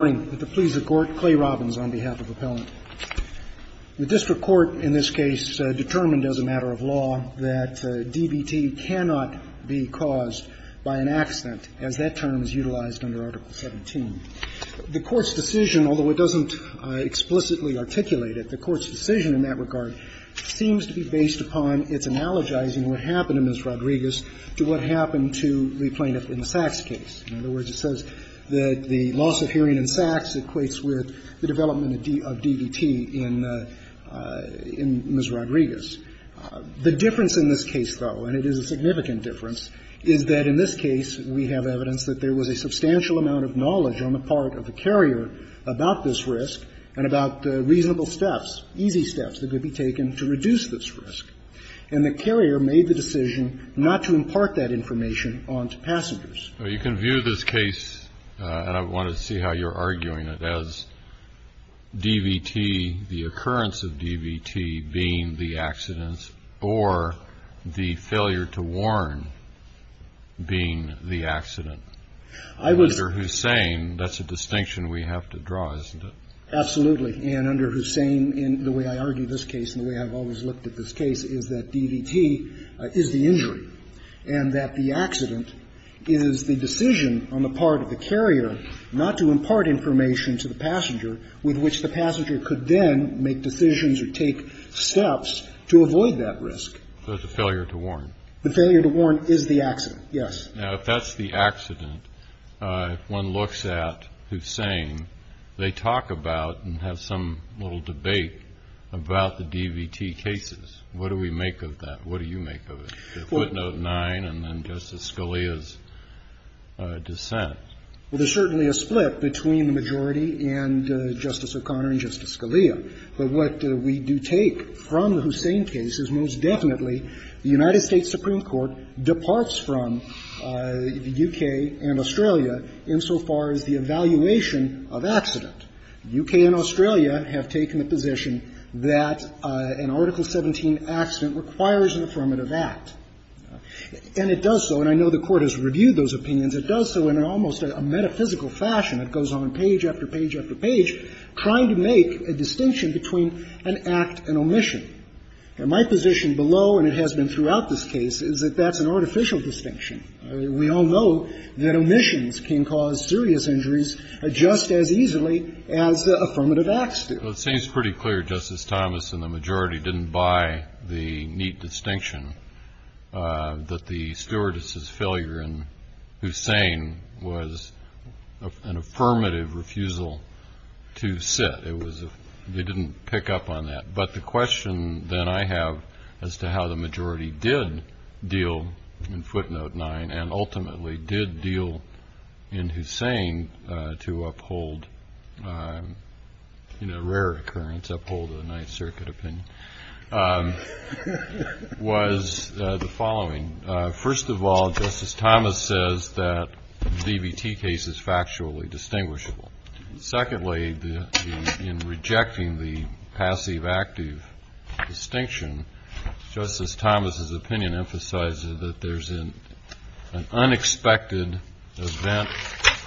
Good morning. With the pleas of court, Clay Robbins on behalf of Appellant. The district court in this case determined as a matter of law that DBT cannot be caused by an accident, as that term is utilized under Article 17. The Court's decision, although it doesn't explicitly articulate it, the Court's decision in that regard seems to be based upon its analogizing what happened to Ms. Rodriguez to what happened to the plaintiff in the Sachs case. In other words, it says that the loss of hearing in Sachs equates with the development of DBT in Ms. Rodriguez. The difference in this case, though, and it is a significant difference, is that in this case we have evidence that there was a substantial amount of knowledge on the part of the carrier about this risk and about reasonable steps, easy steps that could be taken to reduce this risk. And the carrier made the decision not to impart that information on to passengers. Well, you can view this case, and I want to see how you're arguing it, as DBT, the occurrence of DBT being the accident, or the failure to warn being the accident. I was Under Hussain, that's a distinction we have to draw, isn't it? Absolutely. And under Hussain, in the way I argue this case and the way I've always looked at this case, is that DBT is the injury and that the accident is the decision on the part of the carrier not to impart information to the passenger with which the passenger could then make decisions or take steps to avoid that risk. So it's a failure to warn. The failure to warn is the accident, yes. Now, if that's the accident, if one looks at Hussain, they talk about and have some little debate about the DBT cases. What do we make of that? What do you make of it? The footnote 9 and then Justice Scalia's dissent. Well, there's certainly a split between the majority and Justice O'Connor and Justice Scalia, but what we do take from the Hussain case is most definitely the United States, the U.K. and Australia, insofar as the evaluation of accident. The U.K. and Australia have taken the position that an Article 17 accident requires an affirmative act. And it does so, and I know the Court has reviewed those opinions. It does so in almost a metaphysical fashion. It goes on page after page after page, trying to make a distinction between an act and omission. And my position below, and it has been throughout this case, is that that's an artificial distinction. We all know that omissions can cause serious injuries just as easily as affirmative acts do. Well, it seems pretty clear, Justice Thomas, and the majority didn't buy the neat distinction that the stewardess's failure in Hussain was an affirmative refusal to sit. It was a – they didn't pick up on that. But the question that I have as to how the majority did deal in footnote nine and ultimately did deal in Hussain to uphold, in a rare occurrence, uphold the Ninth Circuit opinion, was the following. First of all, Justice Thomas says that the DVT case is factually distinguishable. Secondly, in rejecting the passive-active distinction, Justice Thomas's opinion emphasizes that there's an unexpected event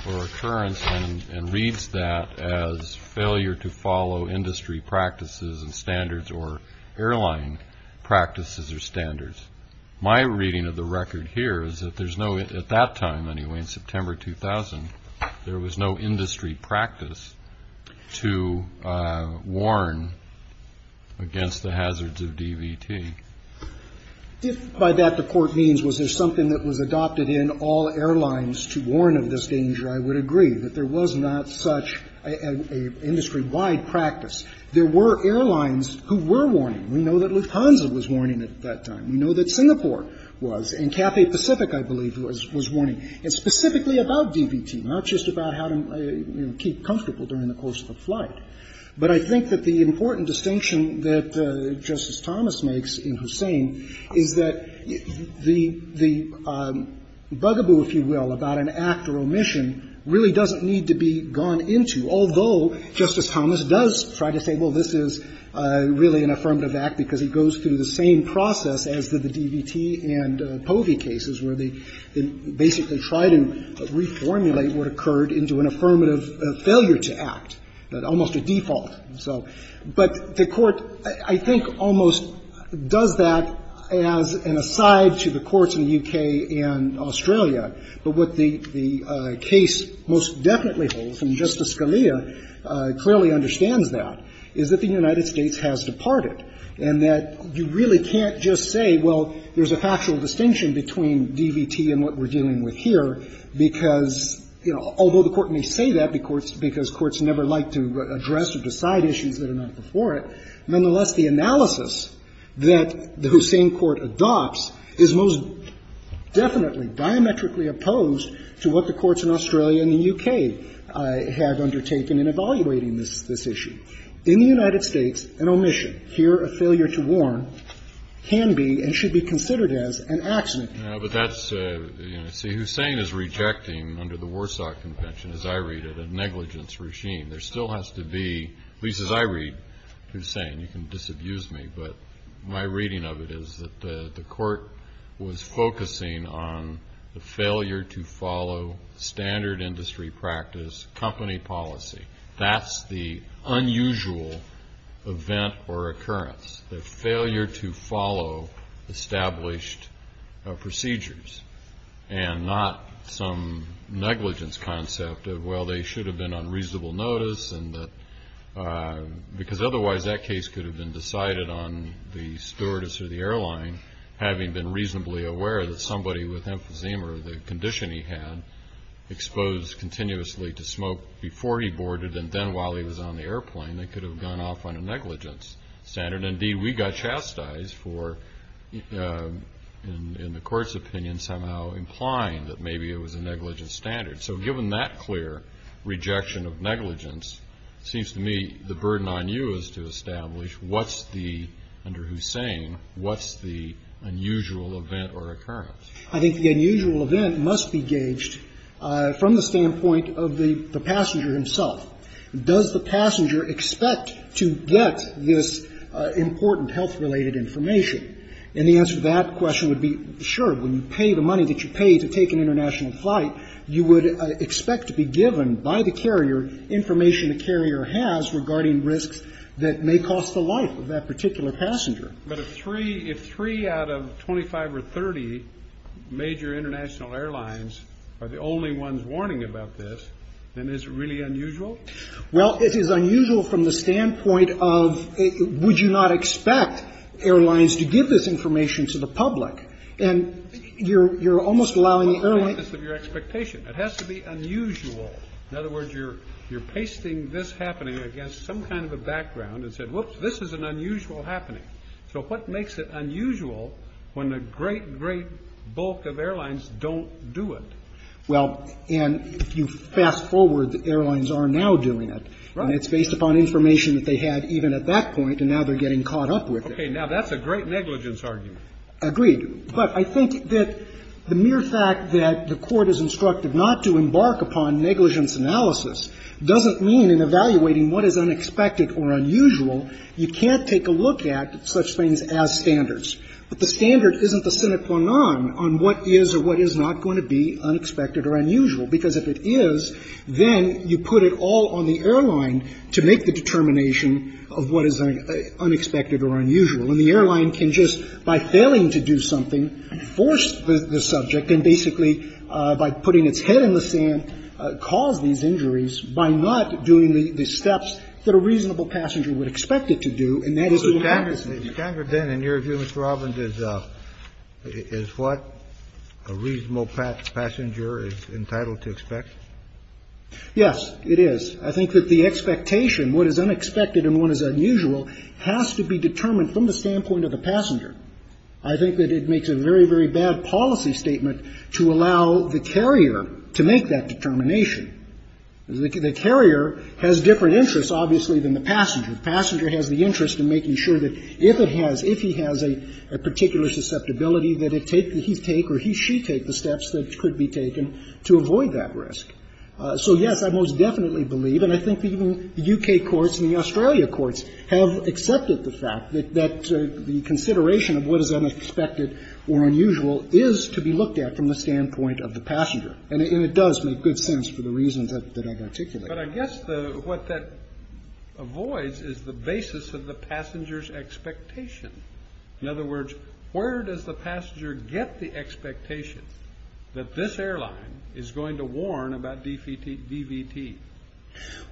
or occurrence and reads that as failure to follow industry practices and standards or airline practices or standards. My reading of the record here is that there's no – at that time, anyway, in September 2000, there was no industry practice to warn against the hazards of DVT. If by that the Court means was there something that was adopted in all airlines to warn of this danger, I would agree that there was not such an industry-wide practice. There were airlines who were warning. We know that Lufthansa was warning at that time. We know that Singapore was. And Cafe Pacific, I believe, was warning. It's specifically about DVT, not just about how to, you know, keep comfortable during the course of a flight. But I think that the important distinction that Justice Thomas makes in Hussain is that the – the bugaboo, if you will, about an act or omission really doesn't need to be gone into, although Justice Thomas does try to say, well, this is really an affirmative act because it goes through the same process as the DVT and POVI cases, where they basically try to reformulate what occurred into an affirmative failure to act, almost a default. So – but the Court, I think, almost does that as an aside to the courts in the U.K. and Australia. But what the case most definitely holds, and Justice Scalia clearly understands that, is that the United States has departed and that you really can't just say, well, there's a factual distinction between DVT and what we're dealing with here, because, you know, although the Court may say that because courts never like to address or decide issues that are not before it, nonetheless, the analysis that the Hussain Court adopts is most definitely diametrically opposed to what the courts in Australia and the U.K. have undertaken in evaluating this issue. In the United States, an omission, here a failure to warn, can be and should be considered as an accident. Kennedy. No, but that's – you know, see, Hussain is rejecting, under the Warsaw Convention, as I read it, a negligence regime. There still has to be – at least as I read Hussain. You can disabuse me, but my reading of it is that the Court was focusing on the failure to follow standard industry practice, company policy. That's the unusual event or occurrence, the failure to follow established procedures and not some negligence concept of, well, they should have been on reasonable notice and that – because otherwise, that case could have been decided on the stewardess or the airline, having been reasonably aware that somebody with emphysema, the condition he had, exposed continuously to smoke before he boarded, and then while he was on the airplane, they could have gone off on a negligence standard. Indeed, we got chastised for, in the Court's opinion, somehow implying that maybe it was a negligence standard. So given that clear rejection of negligence, it seems to me the burden on you is to establish what's the – under Hussain, what's the unusual event or occurrence. I think the unusual event must be gauged from the standpoint of the passenger himself. Does the passenger expect to get this important health-related information? And the answer to that question would be, sure, when you pay the money that you pay to take an international flight, you would expect to be given by the carrier information the carrier has regarding risks that may cost the life of that particular passenger. But if three – if three out of 25 or 30 major international airlines are the only ones warning about this, then is it really unusual? Well, it is unusual from the standpoint of would you not expect airlines to give this information to the public? And you're almost allowing the airline to – It has to be unusual. In other words, you're pasting this happening against some kind of a background and said, whoops, this is an unusual happening. So what makes it unusual when a great, great bulk of airlines don't do it? Well, and if you fast forward, the airlines are now doing it. Right. And it's based upon information that they had even at that point, and now they're getting caught up with it. Okay. Now, that's a great negligence argument. Agreed. But I think that the mere fact that the Court is instructed not to embark upon negligence analysis doesn't mean in evaluating what is unexpected or unusual, you can't take a look at such things as standards. But the standard isn't the sine qua non on what is or what is not going to be unexpected or unusual, because if it is, then you put it all on the airline to make the determination of what is unexpected or unusual. And the airline can just, by failing to do something, force the subject and basically by putting its head in the sand, cause these injuries by not doing the steps that a reasonable passenger is entitled to expect. Yes, it is. I think that the expectation, what is unexpected and what is unusual, has to be determined from the standpoint of the passenger. I think that it makes a very, very bad policy statement to allow the carrier to make that determination. The carrier has different interests, obviously, than the passenger. If it has, if he has a particular susceptibility that it take, that he take or he, she take the steps that could be taken to avoid that risk. So, yes, I most definitely believe, and I think even the U.K. courts and the Australia courts have accepted the fact that the consideration of what is unexpected or unusual is to be looked at from the standpoint of the passenger. And it does make good sense for the reasons that I've articulated. But I guess what that avoids is the basis of the passenger's expectation. In other words, where does the passenger get the expectation that this airline is going to warn about DVT?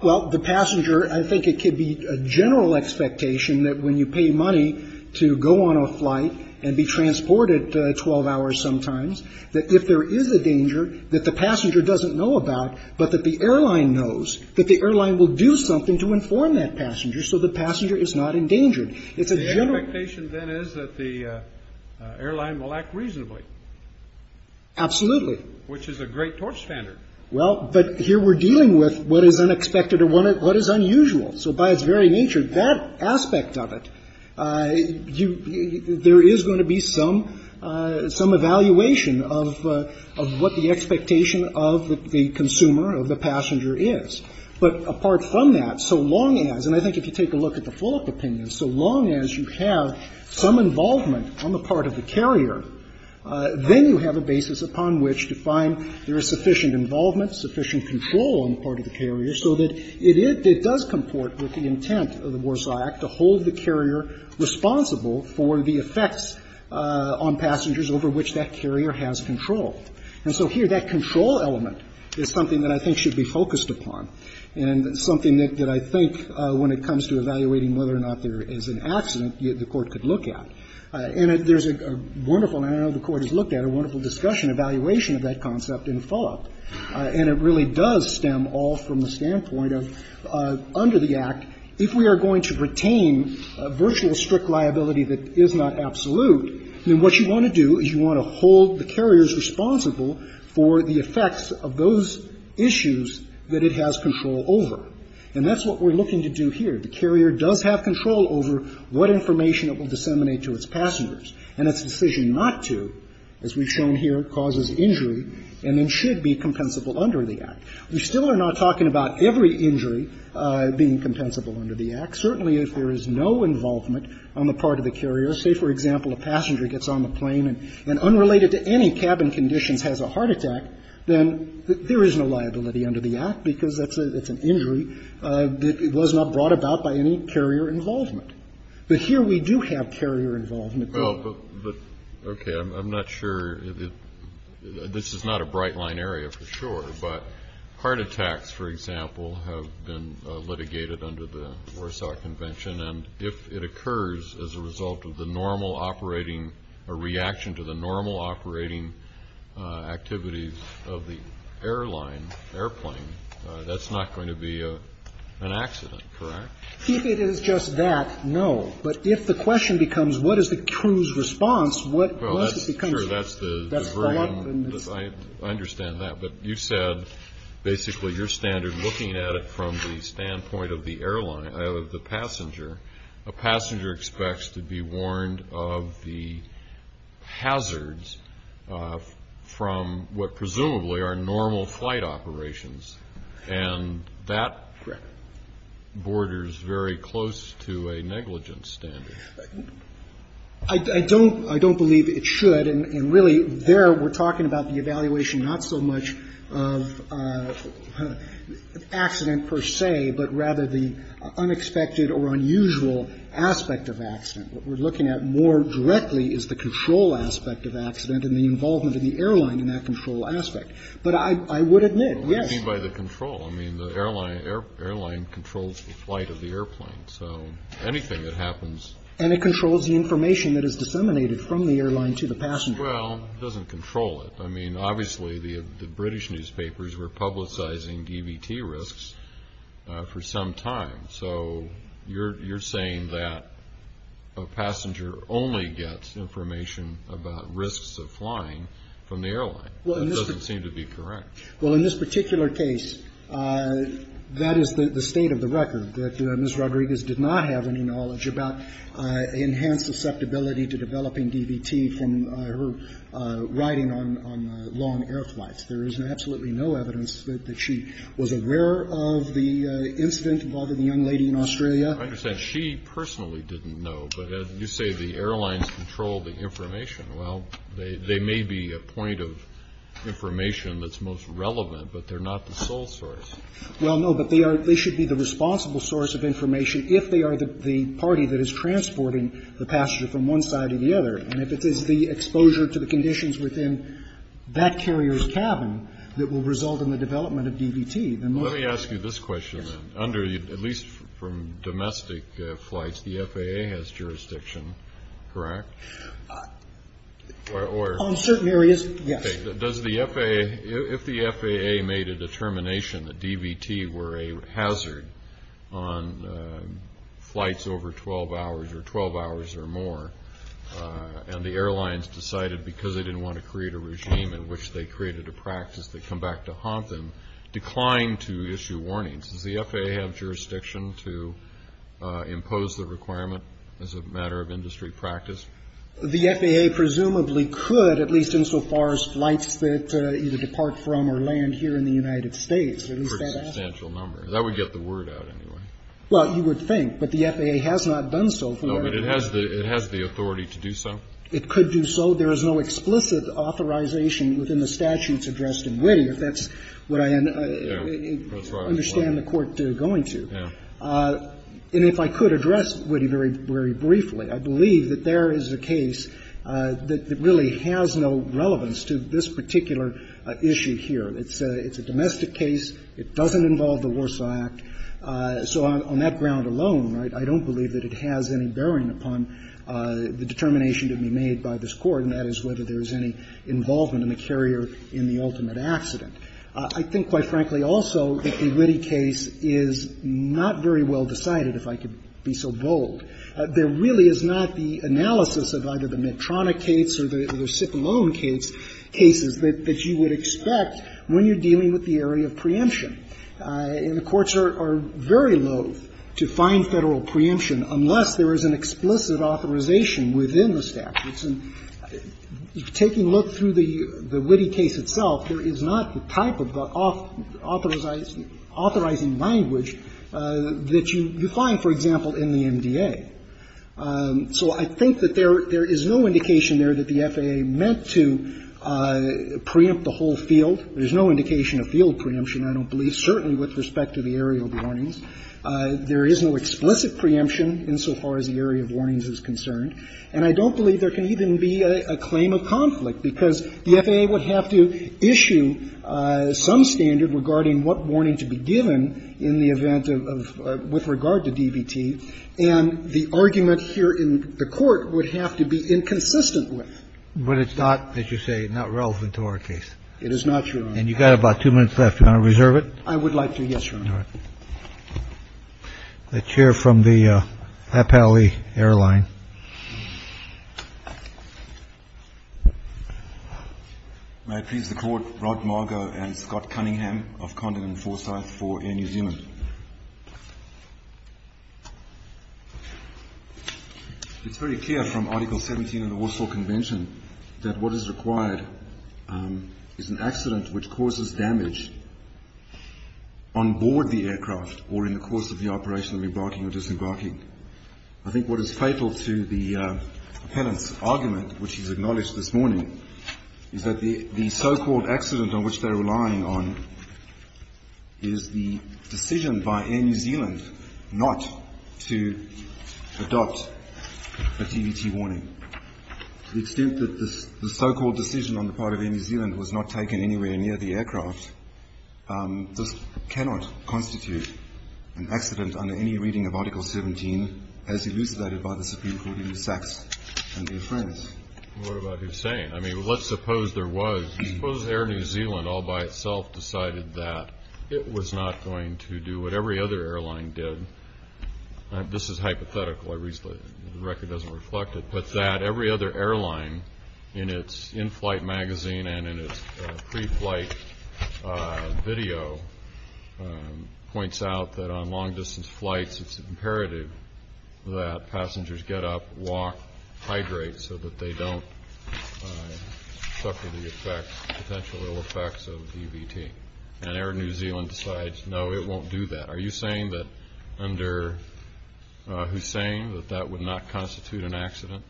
Well, the passenger, I think it could be a general expectation that when you pay money to go on a flight and be transported 12 hours sometimes, that if there is a danger that the passenger doesn't know about, but that the airline knows, that the airline will do something to inform that passenger, so the passenger is not endangered. It's a general. The expectation, then, is that the airline will act reasonably. Absolutely. Which is a great torchstander. Well, but here we're dealing with what is unexpected or what is unusual. So by its very nature, that aspect of it, you, there is going to be some, some evaluation of what the expectation of the consumer or the passenger is. But apart from that, so long as, and I think if you take a look at the Fulop opinion, so long as you have some involvement on the part of the carrier, then you have a basis upon which to find there is sufficient involvement, sufficient control on the part of the carrier, so that it does comport with the intent of the Warsaw Act to hold the carrier responsible for the effects on passengers over which that carrier has control. And so here, that control element is something that I think should be focused upon and something that I think when it comes to evaluating whether or not there is an accident, the Court could look at. And there's a wonderful, and I know the Court has looked at a wonderful discussion, evaluation of that concept in Fulop. And it really does stem all from the standpoint of under the Act, if we are going to retain a virtual strict liability that is not absolute, then what you want to do is hold the carriers responsible for the effects of those issues that it has control over. And that's what we're looking to do here. The carrier does have control over what information it will disseminate to its passengers and its decision not to, as we've shown here, causes injury and then should be compensable under the Act. We still are not talking about every injury being compensable under the Act. Certainly, if there is no involvement on the part of the carrier, say, for example, a passenger gets on the plane and unrelated to any cabin conditions has a heart attack, then there is no liability under the Act, because that's an injury that was not brought about by any carrier involvement. But here we do have carrier involvement. Kennedy. Well, but, okay, I'm not sure. This is not a bright-line area for sure, but heart attacks, for example, have been litigated under the Warsaw Convention. And if it occurs as a result of the normal operating, a reaction to the normal operating activities of the airline, airplane, that's not going to be an accident, correct? If it is just that, no. But if the question becomes, what is the crew's response? Well, that's true. That's the very, I understand that. But you said, basically, your standard, looking at it from the standpoint of the passenger, a passenger expects to be warned of the hazards from what presumably are normal flight operations. And that borders very close to a negligence standard. I don't believe it should. And really, there we're talking about the evaluation not so much of accident per se, but rather the unexpected or unusual aspect of accident. What we're looking at more directly is the control aspect of accident and the involvement of the airline in that control aspect. But I would admit, yes. I mean, by the control, I mean, the airline controls the flight of the airplane. So anything that happens. And it controls the information that is disseminated from the airline to the passenger. Well, it doesn't control it. I mean, obviously, the British newspapers were publicizing DVT risks for some time. So you're saying that a passenger only gets information about risks of flying from the airline. Well, it doesn't seem to be correct. Well, in this particular case, that is the state of the record. That Ms. Rodriguez did not have any knowledge about enhanced susceptibility to developing DVT from her riding on long air flights. There is absolutely no evidence that she was aware of the incident involving the young lady in Australia. I understand. She personally didn't know. But you say the airlines control the information. Well, they may be a point of information that's most relevant, but they're not the sole source. Well, no, but they are they should be the responsible source of information if they are the party that is transporting the passenger from one side to the other. And if it is the exposure to the conditions within that carrier's cabin that will result in the development of DVT. Then let me ask you this question under, at least from domestic flights, the FAA has jurisdiction, correct? On certain areas, yes. Does the FAA, if the FAA made a determination that DVT were a hazard on flights over 12 hours or 12 hours or more, and the airlines decided because they didn't want to create a regime in which they created a practice, they come back to haunt them, decline to issue warnings? Does the FAA have jurisdiction to impose the requirement as a matter of industry practice? The FAA presumably could, at least insofar as flights that either depart from or land here in the United States. It's a pretty substantial number. That would get the word out anyway. Well, you would think. But the FAA has not done so. No, but it has the authority to do so. It could do so. There is no explicit authorization within the statutes addressed in Witte, if that's what I understand the Court going to. And if I could address Witte very briefly, I believe that there is a case that really has no relevance to this particular issue here. It's a domestic case. It doesn't involve the Warsaw Act. So on that ground alone, right, I don't believe that it has any bearing upon the determination to be made by this Court, and that is whether there is any involvement in the carrier in the ultimate accident. I think, quite frankly, also that the Witte case is not very well decided, if I could be so bold. There really is not the analysis of either the Medtronic case or the Sipp-Lone case, cases that you would expect when you're dealing with the area of preemption. And the courts are very loathe to find Federal preemption unless there is an explicit authorization within the statutes. And taking a look through the Witte case itself, there is not the type of authorizing language that you find, for example, in the MDA. So I think that there is no indication there that the FAA meant to preempt the whole field. There's no indication of field preemption. I don't believe, certainly with respect to the area of warnings, there is no explicit preemption insofar as the area of warnings is concerned. And I don't believe there can even be a claim of conflict, because the FAA would have to issue some standard regarding what warning to be given in the event of the DVT, with regard to DVT, and the argument here in the Court would have to be inconsistent with. But it's not, as you say, not relevant to our case. It is not, Your Honor. And you've got about two minutes left. Do you want to reserve it? I would like to. Yes, Your Honor. The chair from the Appali airline. May it please the Court, Rod Margo and Scott Cunningham of Condon and Forsyth for Air New Zealand. It's very clear from Article 17 of the Warsaw Convention that what is required is an accident which causes damage on board the aircraft or in the course of the operation of re-barking or dis-barking. I think what is fatal to the appellant's argument, which he's acknowledged this morning, is that the so-called accident on which they're relying on is the decision by Air New Zealand not to adopt a DVT warning, to the extent that the so-called decision on the part of the airline to do so near the aircraft just cannot constitute an accident under any reading of Article 17 as elucidated by the Supreme Court in the sex and the affirmative. What about Hussein? I mean, let's suppose there was, let's suppose Air New Zealand all by itself decided that it was not going to do what every other airline did. This is hypothetical. The record doesn't reflect it, but that every other airline in its in-flight magazine and its pre-flight video points out that on long-distance flights it's imperative that passengers get up, walk, hydrate so that they don't suffer the effects, potential ill effects of DVT. And Air New Zealand decides, no, it won't do that. Are you saying that under Hussein that that would not constitute an accident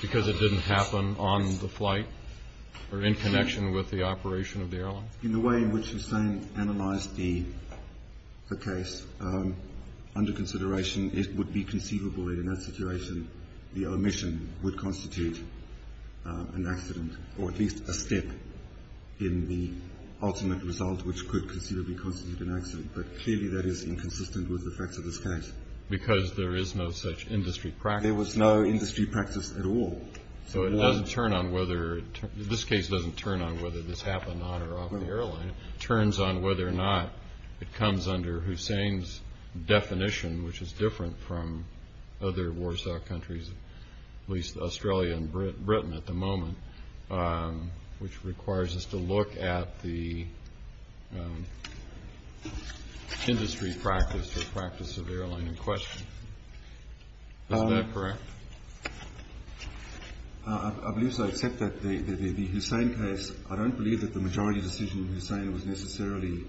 because it didn't happen on the flight or in connection with the operation of the airline? In the way in which Hussein analyzed the case, under consideration, it would be conceivable that in that situation the omission would constitute an accident, or at least a step in the ultimate result which could conceivably constitute an accident, but clearly that is inconsistent with the facts of this case. Because there is no such industry practice. And there was no industry practice at all. So it doesn't turn on whether, this case doesn't turn on whether this happened on or off the airline, it turns on whether or not it comes under Hussein's definition, which is different from other Warsaw countries, at least Australia and Britain at the moment, which requires us to look at the industry practice or practice of the airline in question. Is that correct? I believe so, except that the Hussein case, I don't believe that the majority decision in Hussein was necessarily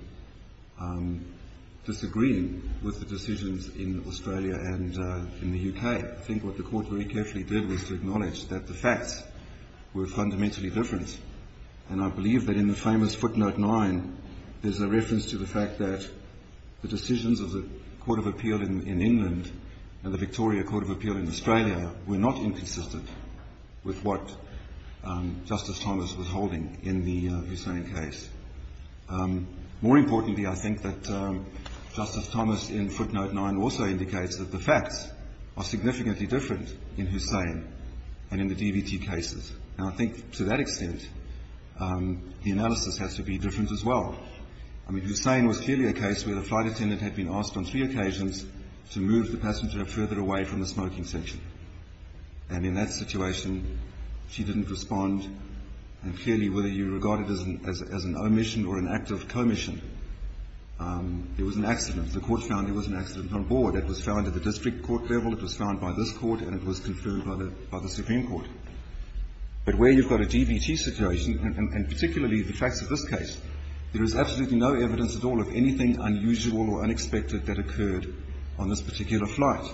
disagreeing with the decisions in Australia and in the UK. I think what the Court very carefully did was to acknowledge that the facts were fundamentally different, and I believe that in the famous footnote 9, there's a reference to the fact that the decisions of the Court of Appeal in England and the Victoria Court of Appeal in Australia were not inconsistent with what Justice Thomas was holding in the Hussein case. More importantly, I think that Justice Thomas in footnote 9 also indicates that the facts are significantly different in Hussein and in the DVT cases. And I think to that extent, the analysis has to be different as well. I mean, Hussein was clearly a case where the flight attendant had been asked on three occasions to move the passenger further away from the smoking section. And in that situation, she didn't respond. And clearly, whether you regard it as an omission or an act of commission, there was an accident. The Court found there was an accident on board. It was found at the district court level, it was found by this court, and it was confirmed by the Supreme Court. But where you've got a DVT situation, and particularly the facts of this case, there is absolutely no evidence at all of anything unusual or unexpected that occurred on this particular flight.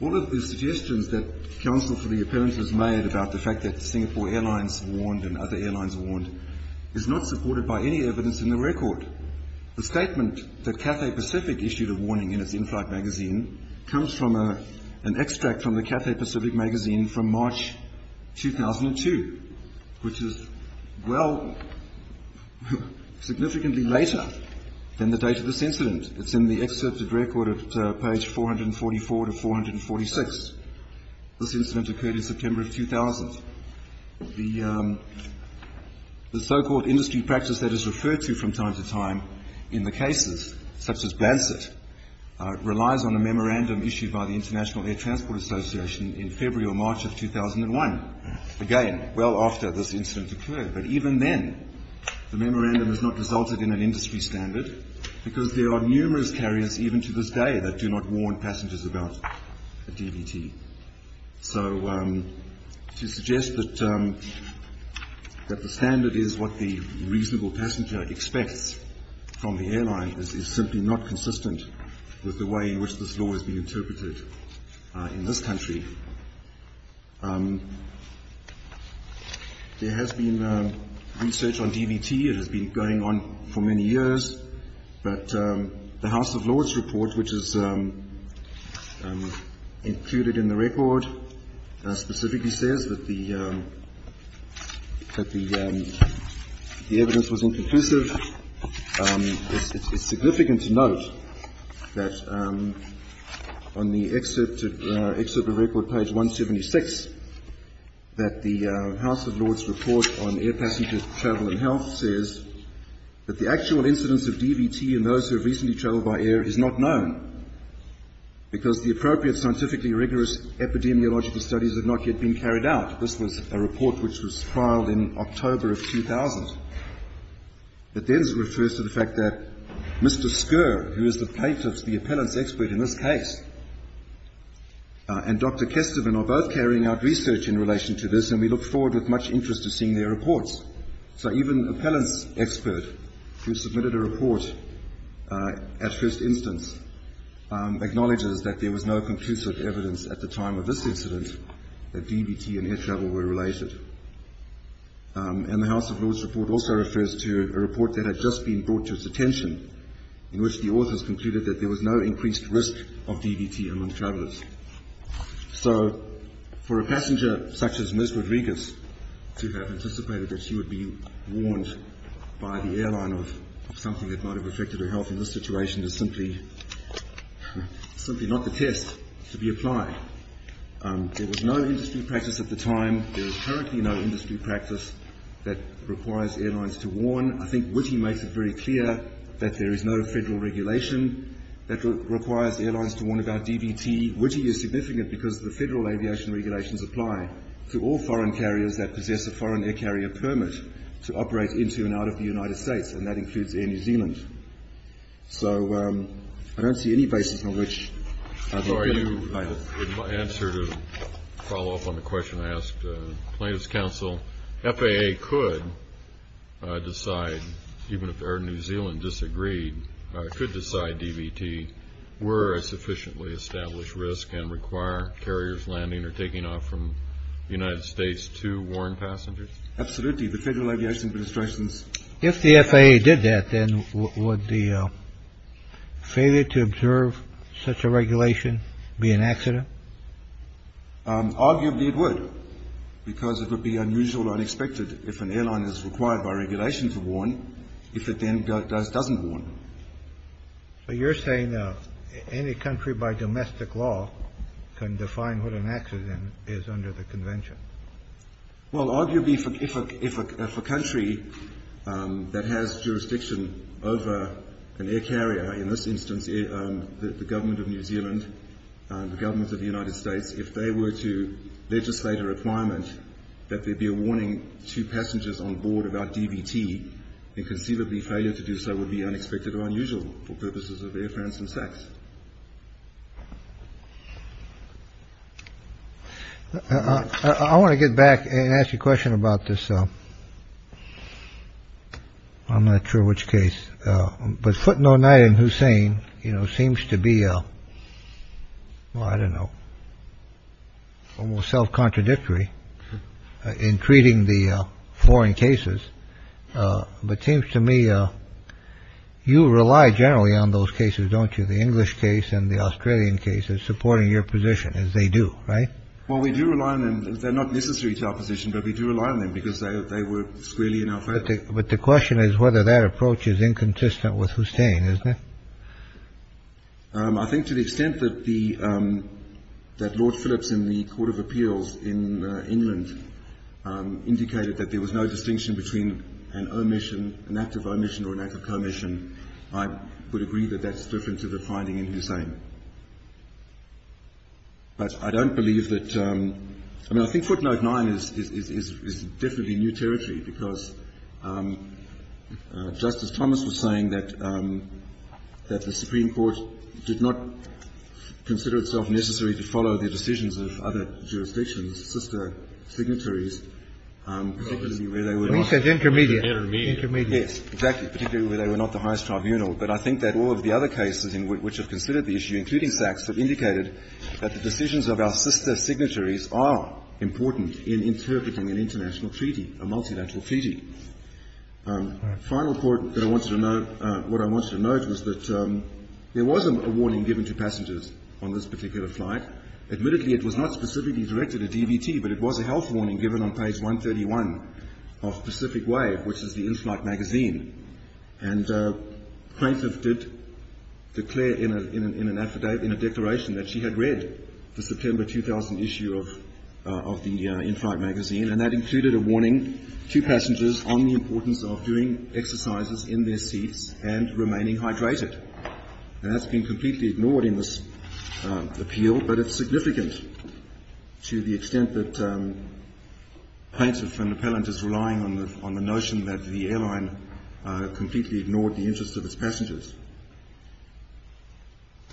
All of the suggestions that counsel for the appellant has made about the fact that Singapore Airlines warned and other airlines warned is not supported by any evidence in the record. The statement that Cathay Pacific issued a warning in its inflight magazine comes from an extract from the Cathay Pacific magazine from March 2002, which is, well, significantly later than the date of this incident. It's in the excerpted record at page 444 to 446. This incident occurred in September of 2000. The so-called industry practice that is referred to from time to time in the cases, such as the International Air Transport Association in February or March of 2001, again, well after this incident occurred. But even then, the memorandum has not resulted in an industry standard, because there are numerous carriers, even to this day, that do not warn passengers about a DVT. So to suggest that the standard is what the reasonable passenger expects from the airline is simply not consistent with the way in which this law is being interpreted in this country. There has been research on DVT. It has been going on for many years. But the House of Lords report, which is included in the record, specifically says that the evidence was inconclusive. It's significant to note that on the excerpted record, page 176, that the House of Lords report on air passenger travel and health says that the actual incidence of DVT in those who have recently travelled by air is not known, because the appropriate scientifically rigorous epidemiological studies have not yet been carried out. This was a report which was trialled in October of 2000. It then refers to the fact that Mr. Scurr, who is the plaintiff's, the appellant's expert in this case, and Dr. Kesteven are both carrying out research in relation to this, and we look forward with much interest to seeing their reports. So even the appellant's expert, who submitted a report at first instance, acknowledges that there was no conclusive evidence at the time of this incident that DVT and air travel were related. And the House of Lords report also refers to a report that had just been brought to its attention, in which the authors concluded that there was no increased risk of DVT among travellers. So for a passenger such as Ms. Rodriguez to have anticipated that she would be warned by the airline of something that might have affected her health in this situation is simply simply not the test to be applied. There was no industry practice at the time, there is currently no industry practice that requires airlines to warn. I think Witte makes it very clear that there is no federal regulation that requires airlines to warn about DVT. Witte is significant because the federal aviation regulations apply to all foreign carriers that possess a foreign air carrier permit to operate into and out of the United States, and that includes Air New Zealand. So I don't see any basis on which... In my answer to follow up on the question I asked plaintiff's counsel, FAA could decide, even if Air New Zealand disagreed, could decide DVT were a sufficiently established risk and require carriers landing or taking off from the United States to warn passengers? Absolutely. If the FAA did that, then would the failure to observe such a regulation be an accident? Arguably it would, because it would be unusual or unexpected if an airline is required by regulation to warn, if it then doesn't warn. So you're saying any country by domestic law can define what an accident is under the convention? Well, arguably if a country that has jurisdiction over an air carrier, in this instance the government of New Zealand, the government of the United States, if they were to legislate a requirement that there be a warning to passengers on board about DVT, then conceivably failure to do so would be unexpected or unusual for purposes of Air France and SACS. I want to get back and ask you a question about this. I'm not sure which case. But footnote night in Hussein, you know, seems to be. Well, I don't know. Almost self-contradictory in treating the foreign cases. But seems to me you rely generally on those cases, don't you? The English case and the Australian case is supporting your position as they do. Right. Well, we do rely on them. They're not necessary to our position, but we do rely on them because they were squarely in our favor. But the question is whether that approach is inconsistent with Hussein, isn't it? I think to the extent that the that Lord Phillips in the Court of Appeals in England indicated that there was no distinction between an omission, an act of omission or an act of commission, I would agree that that's different to the finding in Hussein. But I don't believe that, I mean, I think footnote nine is definitely new territory, because Justice Thomas was saying that the Supreme Court did not consider itself necessary to follow the decisions of other jurisdictions, sister signatories, particularly where they were not the highest tribunal. But I think that all of the other cases in which have considered the issue, including Sachs, have indicated that the decisions of our sister signatories are important in interpreting an international treaty, a multilateral treaty. Final point that I wanted to note, what I wanted to note was that there was a warning given to passengers on this particular flight. Admittedly it was not specifically directed at DVT, but it was a health warning given on page 131 of Pacific Wave, which is the in-flight magazine. And the plaintiff did declare in a declaration that she had read the September 2000 issue of the in-flight magazine, and that included a warning to passengers on the importance of doing exercises in their seats and remaining hydrated. And that's been completely ignored in this appeal, but it's significant to the extent that plaintiff and appellant is relying on the notion that the airline completely ignored the interests of its passengers.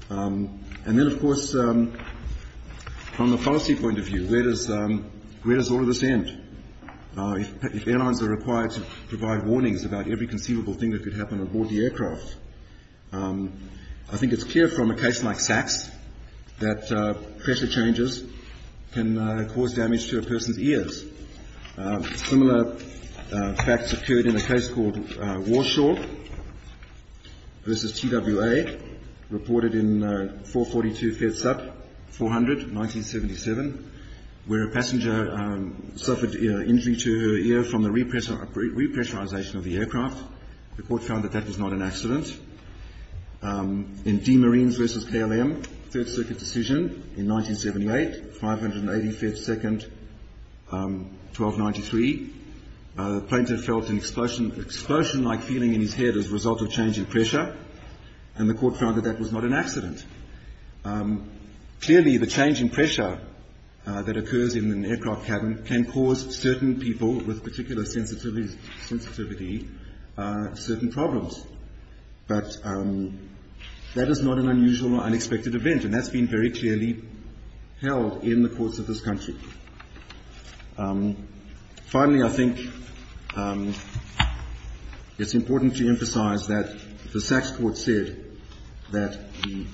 And then of course, from a policy point of view, where does all of this end? If airlines are required to provide warnings about every conceivable thing that could happen aboard the aircraft, I think it's clear from a case like Sachs that pressure changes can cause damage to a person's ears. Similar facts occurred in a case called Warshaw versus TWA, reported in 442 FedSat 400, 1977, where a passenger suffered injury to her ear from the repressurization of the aircraft. The court found that that was not an accident. In Demarines versus KLM, 3rd Circuit decision in 1978, 580 FedSec 1293, the plaintiff felt an explosion-like feeling in his head as a result of change in pressure, and the court found that that was not an accident. Clearly, the change in pressure that occurs in an aircraft cabin can cause certain people with particular sensitivity certain problems. But that is not an unusual or unexpected event, and that's been very clearly held in the courts of this country. Finally, I think it's important to emphasize that the Sachs court said that the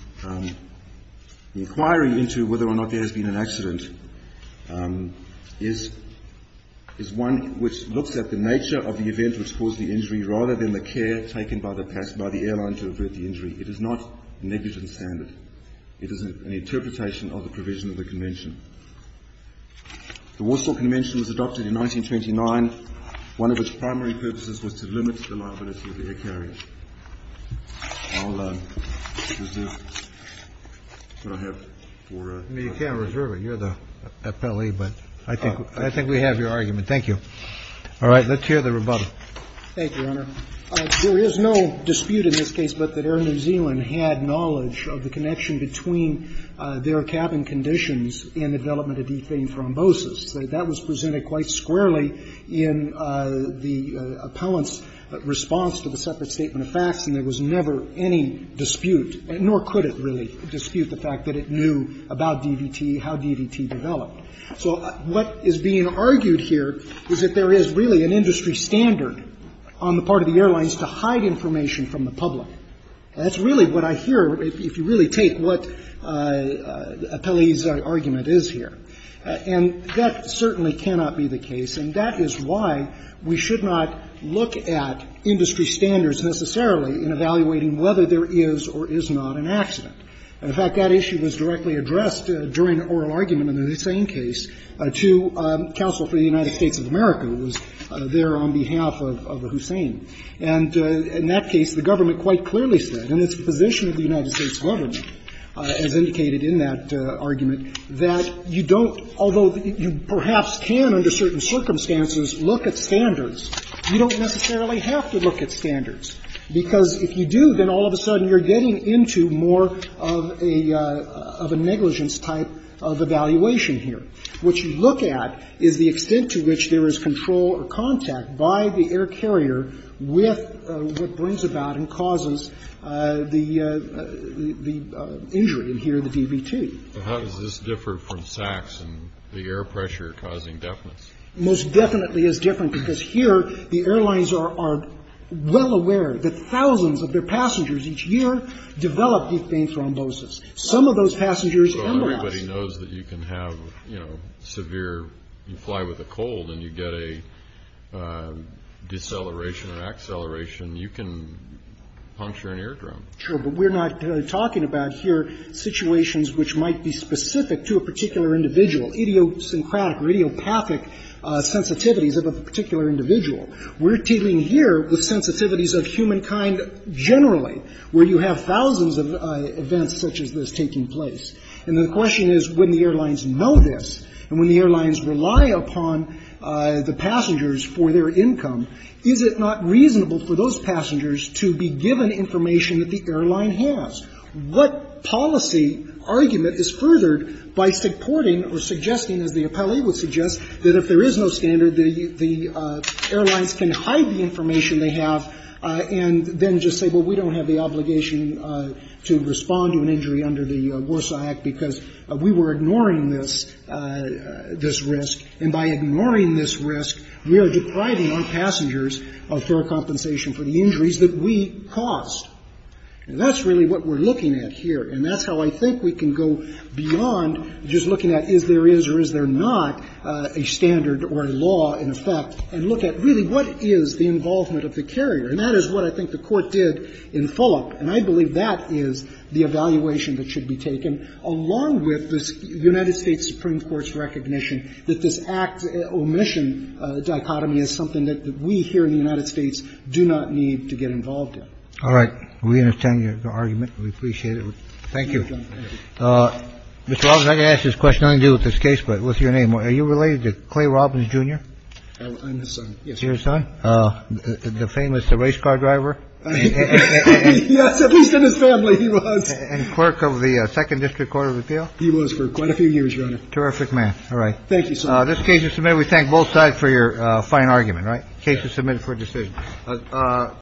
inquiry into whether or not there has been an accident is one which looks at the nature of the event which caused the injury rather than the care taken by the airline to avert the injury. It is not a negligent standard. It is an interpretation of the provision of the Convention. The Warshaw Convention was adopted in 1929. One of its primary purposes was to limit the liability of the air carrier. I'll reserve this that I have for... You can't reserve it. You're the appellee, but I think we have your argument. Thank you. All right. Let's hear the rebuttal. Thank you, Your Honor. There is no dispute in this case but that Air New Zealand had knowledge of the connection between their cabin conditions and the development of deflating thrombosis. That was presented quite squarely in the appellant's response to the separate statement of facts, and there was never any dispute, nor could it really dispute the fact that it knew about DVT, how DVT developed. So what is being argued here is that there is really an industry standard on the part of the airlines to hide information from the public. That's really what I hear if you really take what the appellee's argument is here. And that certainly cannot be the case, and that is why we should not look at industry standards necessarily in evaluating whether there is or is not an accident. And, in fact, that issue was directly addressed during the oral argument in the Hussein case to counsel for the United States of America, who was there on behalf of Hussein. And in that case, the government quite clearly said, and it's the position of the United States government, as indicated in that argument, that you don't, although you perhaps can under certain circumstances look at standards, you don't necessarily have to look at standards, because if you do, then all of a sudden you're getting into more of a negligence type of evaluation here. What you look at is the extent to which there is control or contact by the air carrier with what brings about and causes the injury in here, the DVT. But how does this differ from SACS and the air pressure causing deafness? Most definitely is different, because here the airlines are well aware that thousands of their passengers each year develop deep vein thrombosis. Some of those passengers embolize. Everybody knows that you can have severe, you fly with a cold and you get a deceleration or acceleration, you can puncture an eardrum. Sure, but we're not talking about here situations which might be specific to a particular individual, idiosyncratic, radiopathic sensitivities of a particular individual. We're dealing here with sensitivities of humankind generally, where you have thousands of events such as this taking place. And the question is when the airlines know this and when the airlines rely upon the passengers for their income, is it not reasonable for those passengers to be given information that the airline has? What policy argument is furthered by supporting or suggesting, as the appellee would suggest, that if there is no standard, the airlines can hide the information they have and then just say, well, we don't have the obligation to respond to an injury under the Warsaw Act because we were ignoring this risk, and by ignoring this risk, we are depriving our passengers of fair compensation for the injuries that we caused. And that's really what we're looking at here, and that's how I think we can go beyond just looking at is there is or is there not a standard or a law in effect and look at really what is the involvement of the carrier. And that is what I think the Court did in Fulop, and I believe that is the evaluation that should be taken, along with this United States Supreme Court's recognition that this act-omission dichotomy is something that we here in the United States do not need to get involved in. All right. We understand your argument. We appreciate it. Thank you. Mr. Robbins, I can ask this question. I didn't deal with this case, but what's your name? Are you related to Clay Robbins, Jr.? I'm his son, yes. You're his son? The famous race car driver? Yes, at least in his family, he was. And clerk of the Second District Court of Appeal? He was for quite a few years, Your Honor. Terrific man. All right. Thank you, sir. This case is submitted. And we thank both sides for your fine argument, right? Case is submitted for decision.